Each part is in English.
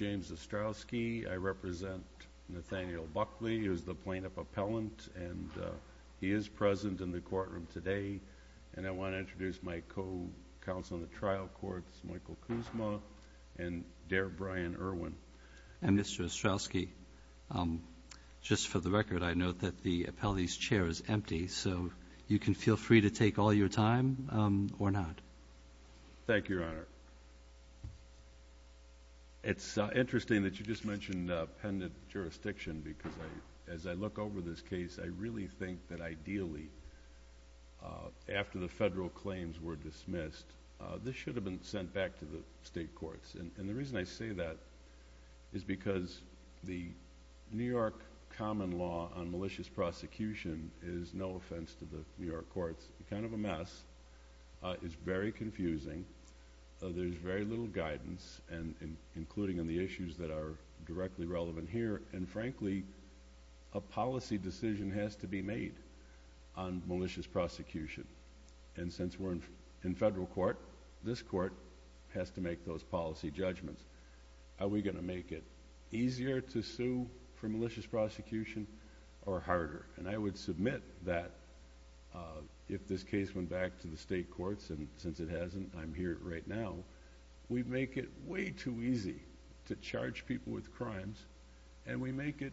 I represent Nathaniel Buckley, who is the plaintiff appellant, and he is present in the courtroom today. And I want to introduce my co-counsel in the trial courts, Michael Kuzma and Dare Brian Irwin. And Mr. Ostrowski, just for the record, I note that the appellee's chair is empty, so you can feel free to take all your time or not. Thank you, Your Honor. It's interesting that you just mentioned pendent jurisdiction, because as I look over this case, I really think that ideally, after the federal claims were dismissed, this should have been sent back to the state courts. And the reason I say that is because the New York common law on malicious prosecution is no offense to the New York courts, kind of a mess, it's very confusing. There's very little guidance, including on the issues that are directly relevant here, and frankly, a policy decision has to be made on malicious prosecution. And since we're in federal court, this court has to make those policy judgments. Are we going to make it easier to sue for malicious prosecution or harder? And I would submit that if this case went back to the state courts, and since it hasn't, and I'm here right now, we'd make it way too easy to charge people with crimes, and we make it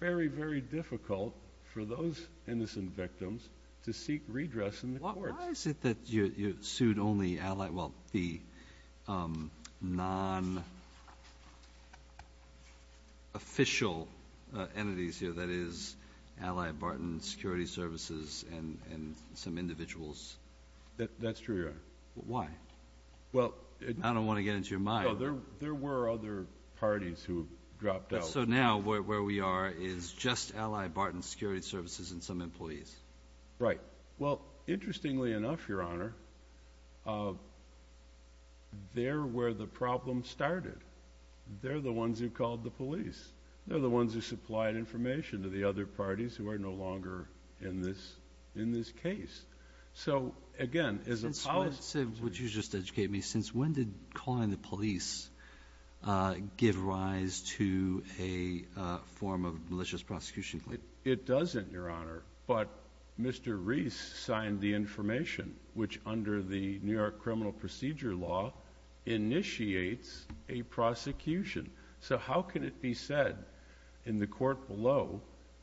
very, very difficult for those innocent victims to seek redress in the courts. Why is it that you sued only allied, well, the non-official entities here, that is, Allied Barton Security Services and some individuals? That's true, Your Honor. Why? I don't want to get into your mind. No, there were other parties who dropped out. So now where we are is just Allied Barton Security Services and some employees? Right. Well, interestingly enough, Your Honor, they're where the problem started. They're the ones who called the police. They're the ones who supplied information to the other parties who are no longer in this case. So, again, as a policy... So I'd say, would you just educate me, since when did calling the police give rise to a form of malicious prosecution? It doesn't, Your Honor, but Mr. Reese signed the information, which under the New York Criminal Procedure Law initiates a prosecution. So how can it be said in the court below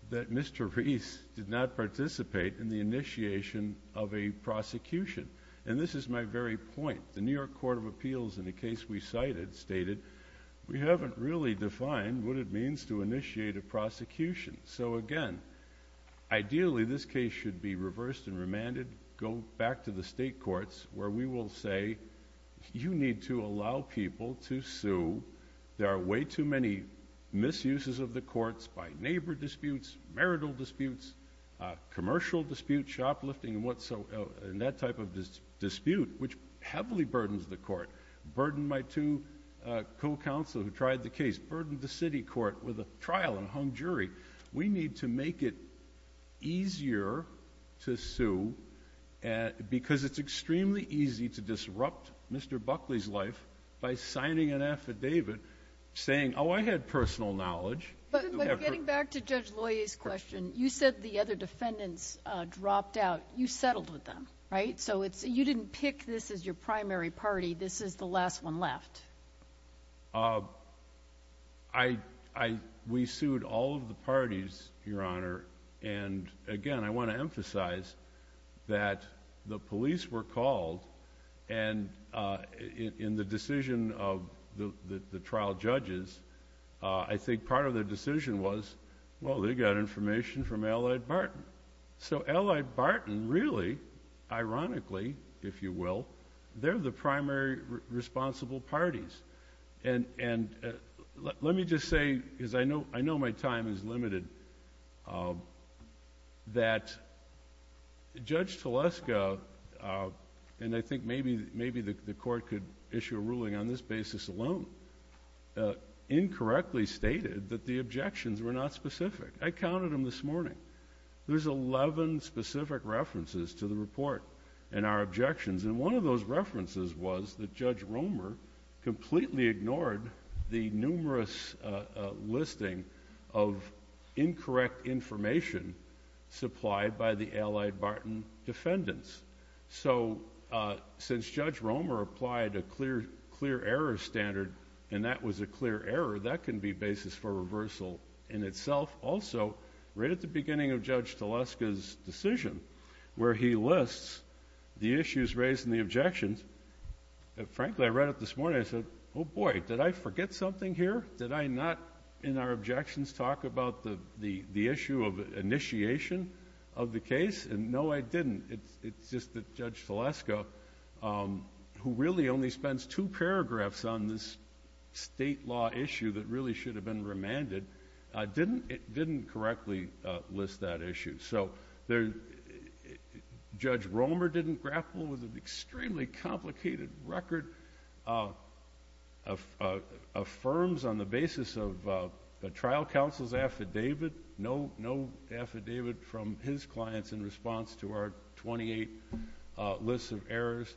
that Mr. Reese did not participate in the initiation of a prosecution? And this is my very point. The New York Court of Appeals, in a case we cited, stated, we haven't really defined what it means to initiate a prosecution. So, again, ideally, this case should be reversed and remanded, go back to the state courts, where we will say, you need to allow people to sue. There are way too many misuses of the courts by neighbor disputes, marital disputes, commercial disputes, shoplifting, and that type of dispute, which heavily burdens the court. Burdened by two co-counselors who tried the case. Burdened the city court with a trial and hung jury. We need to make it easier to sue because it's extremely easy to disrupt Mr. Buckley's life by signing an affidavit saying, oh, I had personal knowledge. But getting back to Judge Loyer's question, you said the other defendants dropped out. You settled with them, right? So you didn't pick this as your primary party. This is the last one left. We sued all of the parties, Your Honor. And, again, I want to emphasize that the police were called. And in the decision of the trial judges, I think part of the decision was, well, they got information from Allied Barton. So Allied Barton really, ironically, if you will, they're the primary responsible parties. And let me just say, because I know my time is limited, that Judge Teleska, and I think maybe the court could issue a ruling on this basis alone, incorrectly stated that the objections were not specific. I counted them this morning. There's 11 specific references to the report and our objections. And one of those references was that Judge Romer completely ignored the numerous listing of incorrect information supplied by the Allied Barton defendants. So since Judge Romer applied a clear error standard, and that was a clear error, that can be basis for reversal in itself. Also, right at the beginning of Judge Teleska's decision, where he lists the issues raised and the objections, frankly, I read it this morning. I said, oh, boy, did I forget something here? Did I not, in our objections, talk about the issue of initiation of the case? And no, I didn't. It's just that Judge Teleska, who really only spends two paragraphs on this state law issue that really should have been remanded, didn't correctly list that issue. So Judge Romer didn't grapple with an extremely complicated record of affirms on the basis of the trial counsel's affidavit, no affidavit from his clients in response to our 28 lists of errors.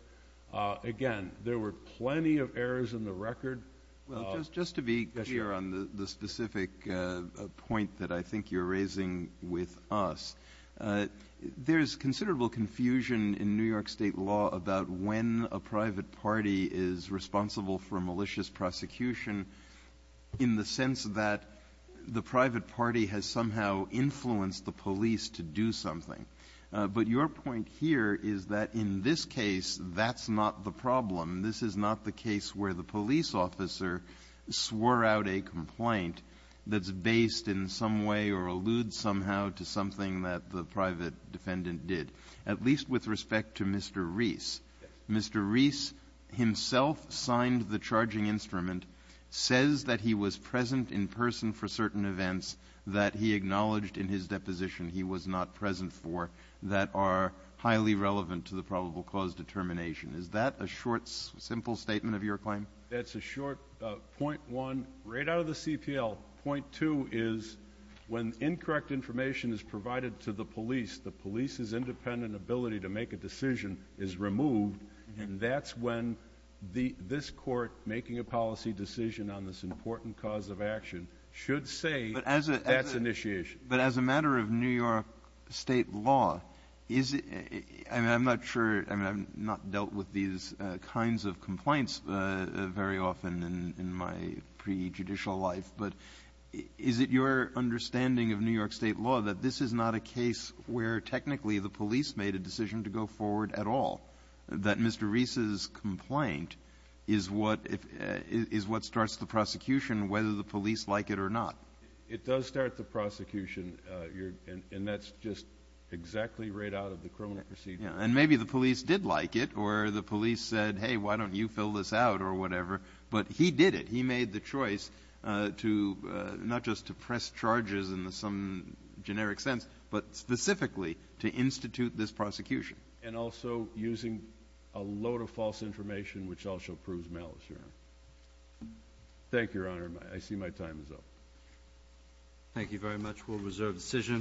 Again, there were plenty of errors in the record. Well, just to be clear on the specific point that I think you're raising with us, there's considerable confusion in New York State law about when a private party is responsible for a malicious prosecution in the sense that the private party has somehow influenced the police to do something. But your point here is that in this case, that's not the problem. This is not the case where the police officer swore out a complaint that's based in some way or alludes somehow to something that the private defendant did, at least with respect to Mr. Reese. Mr. Reese himself signed the charging instrument, says that he was present in person for certain events that he acknowledged in his deposition he was not present for that are highly relevant to the probable cause determination. Is that a short, simple statement of your claim? That's a short point one right out of the CPL. Point two is when incorrect information is provided to the police, the police's independent ability to make a decision is removed, and that's when this court making a policy decision on this important cause of action should say that's initiation. But as a matter of New York State law, is it – I mean, I'm not sure – I mean, I've not dealt with these kinds of complaints very often in my prejudicial life, but is it your understanding of New York State law that this is not a case where technically the police made a decision to go forward at all, that Mr. Reese's complaint is what starts the prosecution, whether the police like it or not? It does start the prosecution, and that's just exactly right out of the Cronin procedure. And maybe the police did like it or the police said, hey, why don't you fill this out or whatever, but he did it. He made the choice to – not just to press charges in some generic sense, but specifically to institute this prosecution. And also using a load of false information, which also proves malice, Your Honor. Thank you, Your Honor. I see my time is up. Thank you very much. We'll reserve the decision.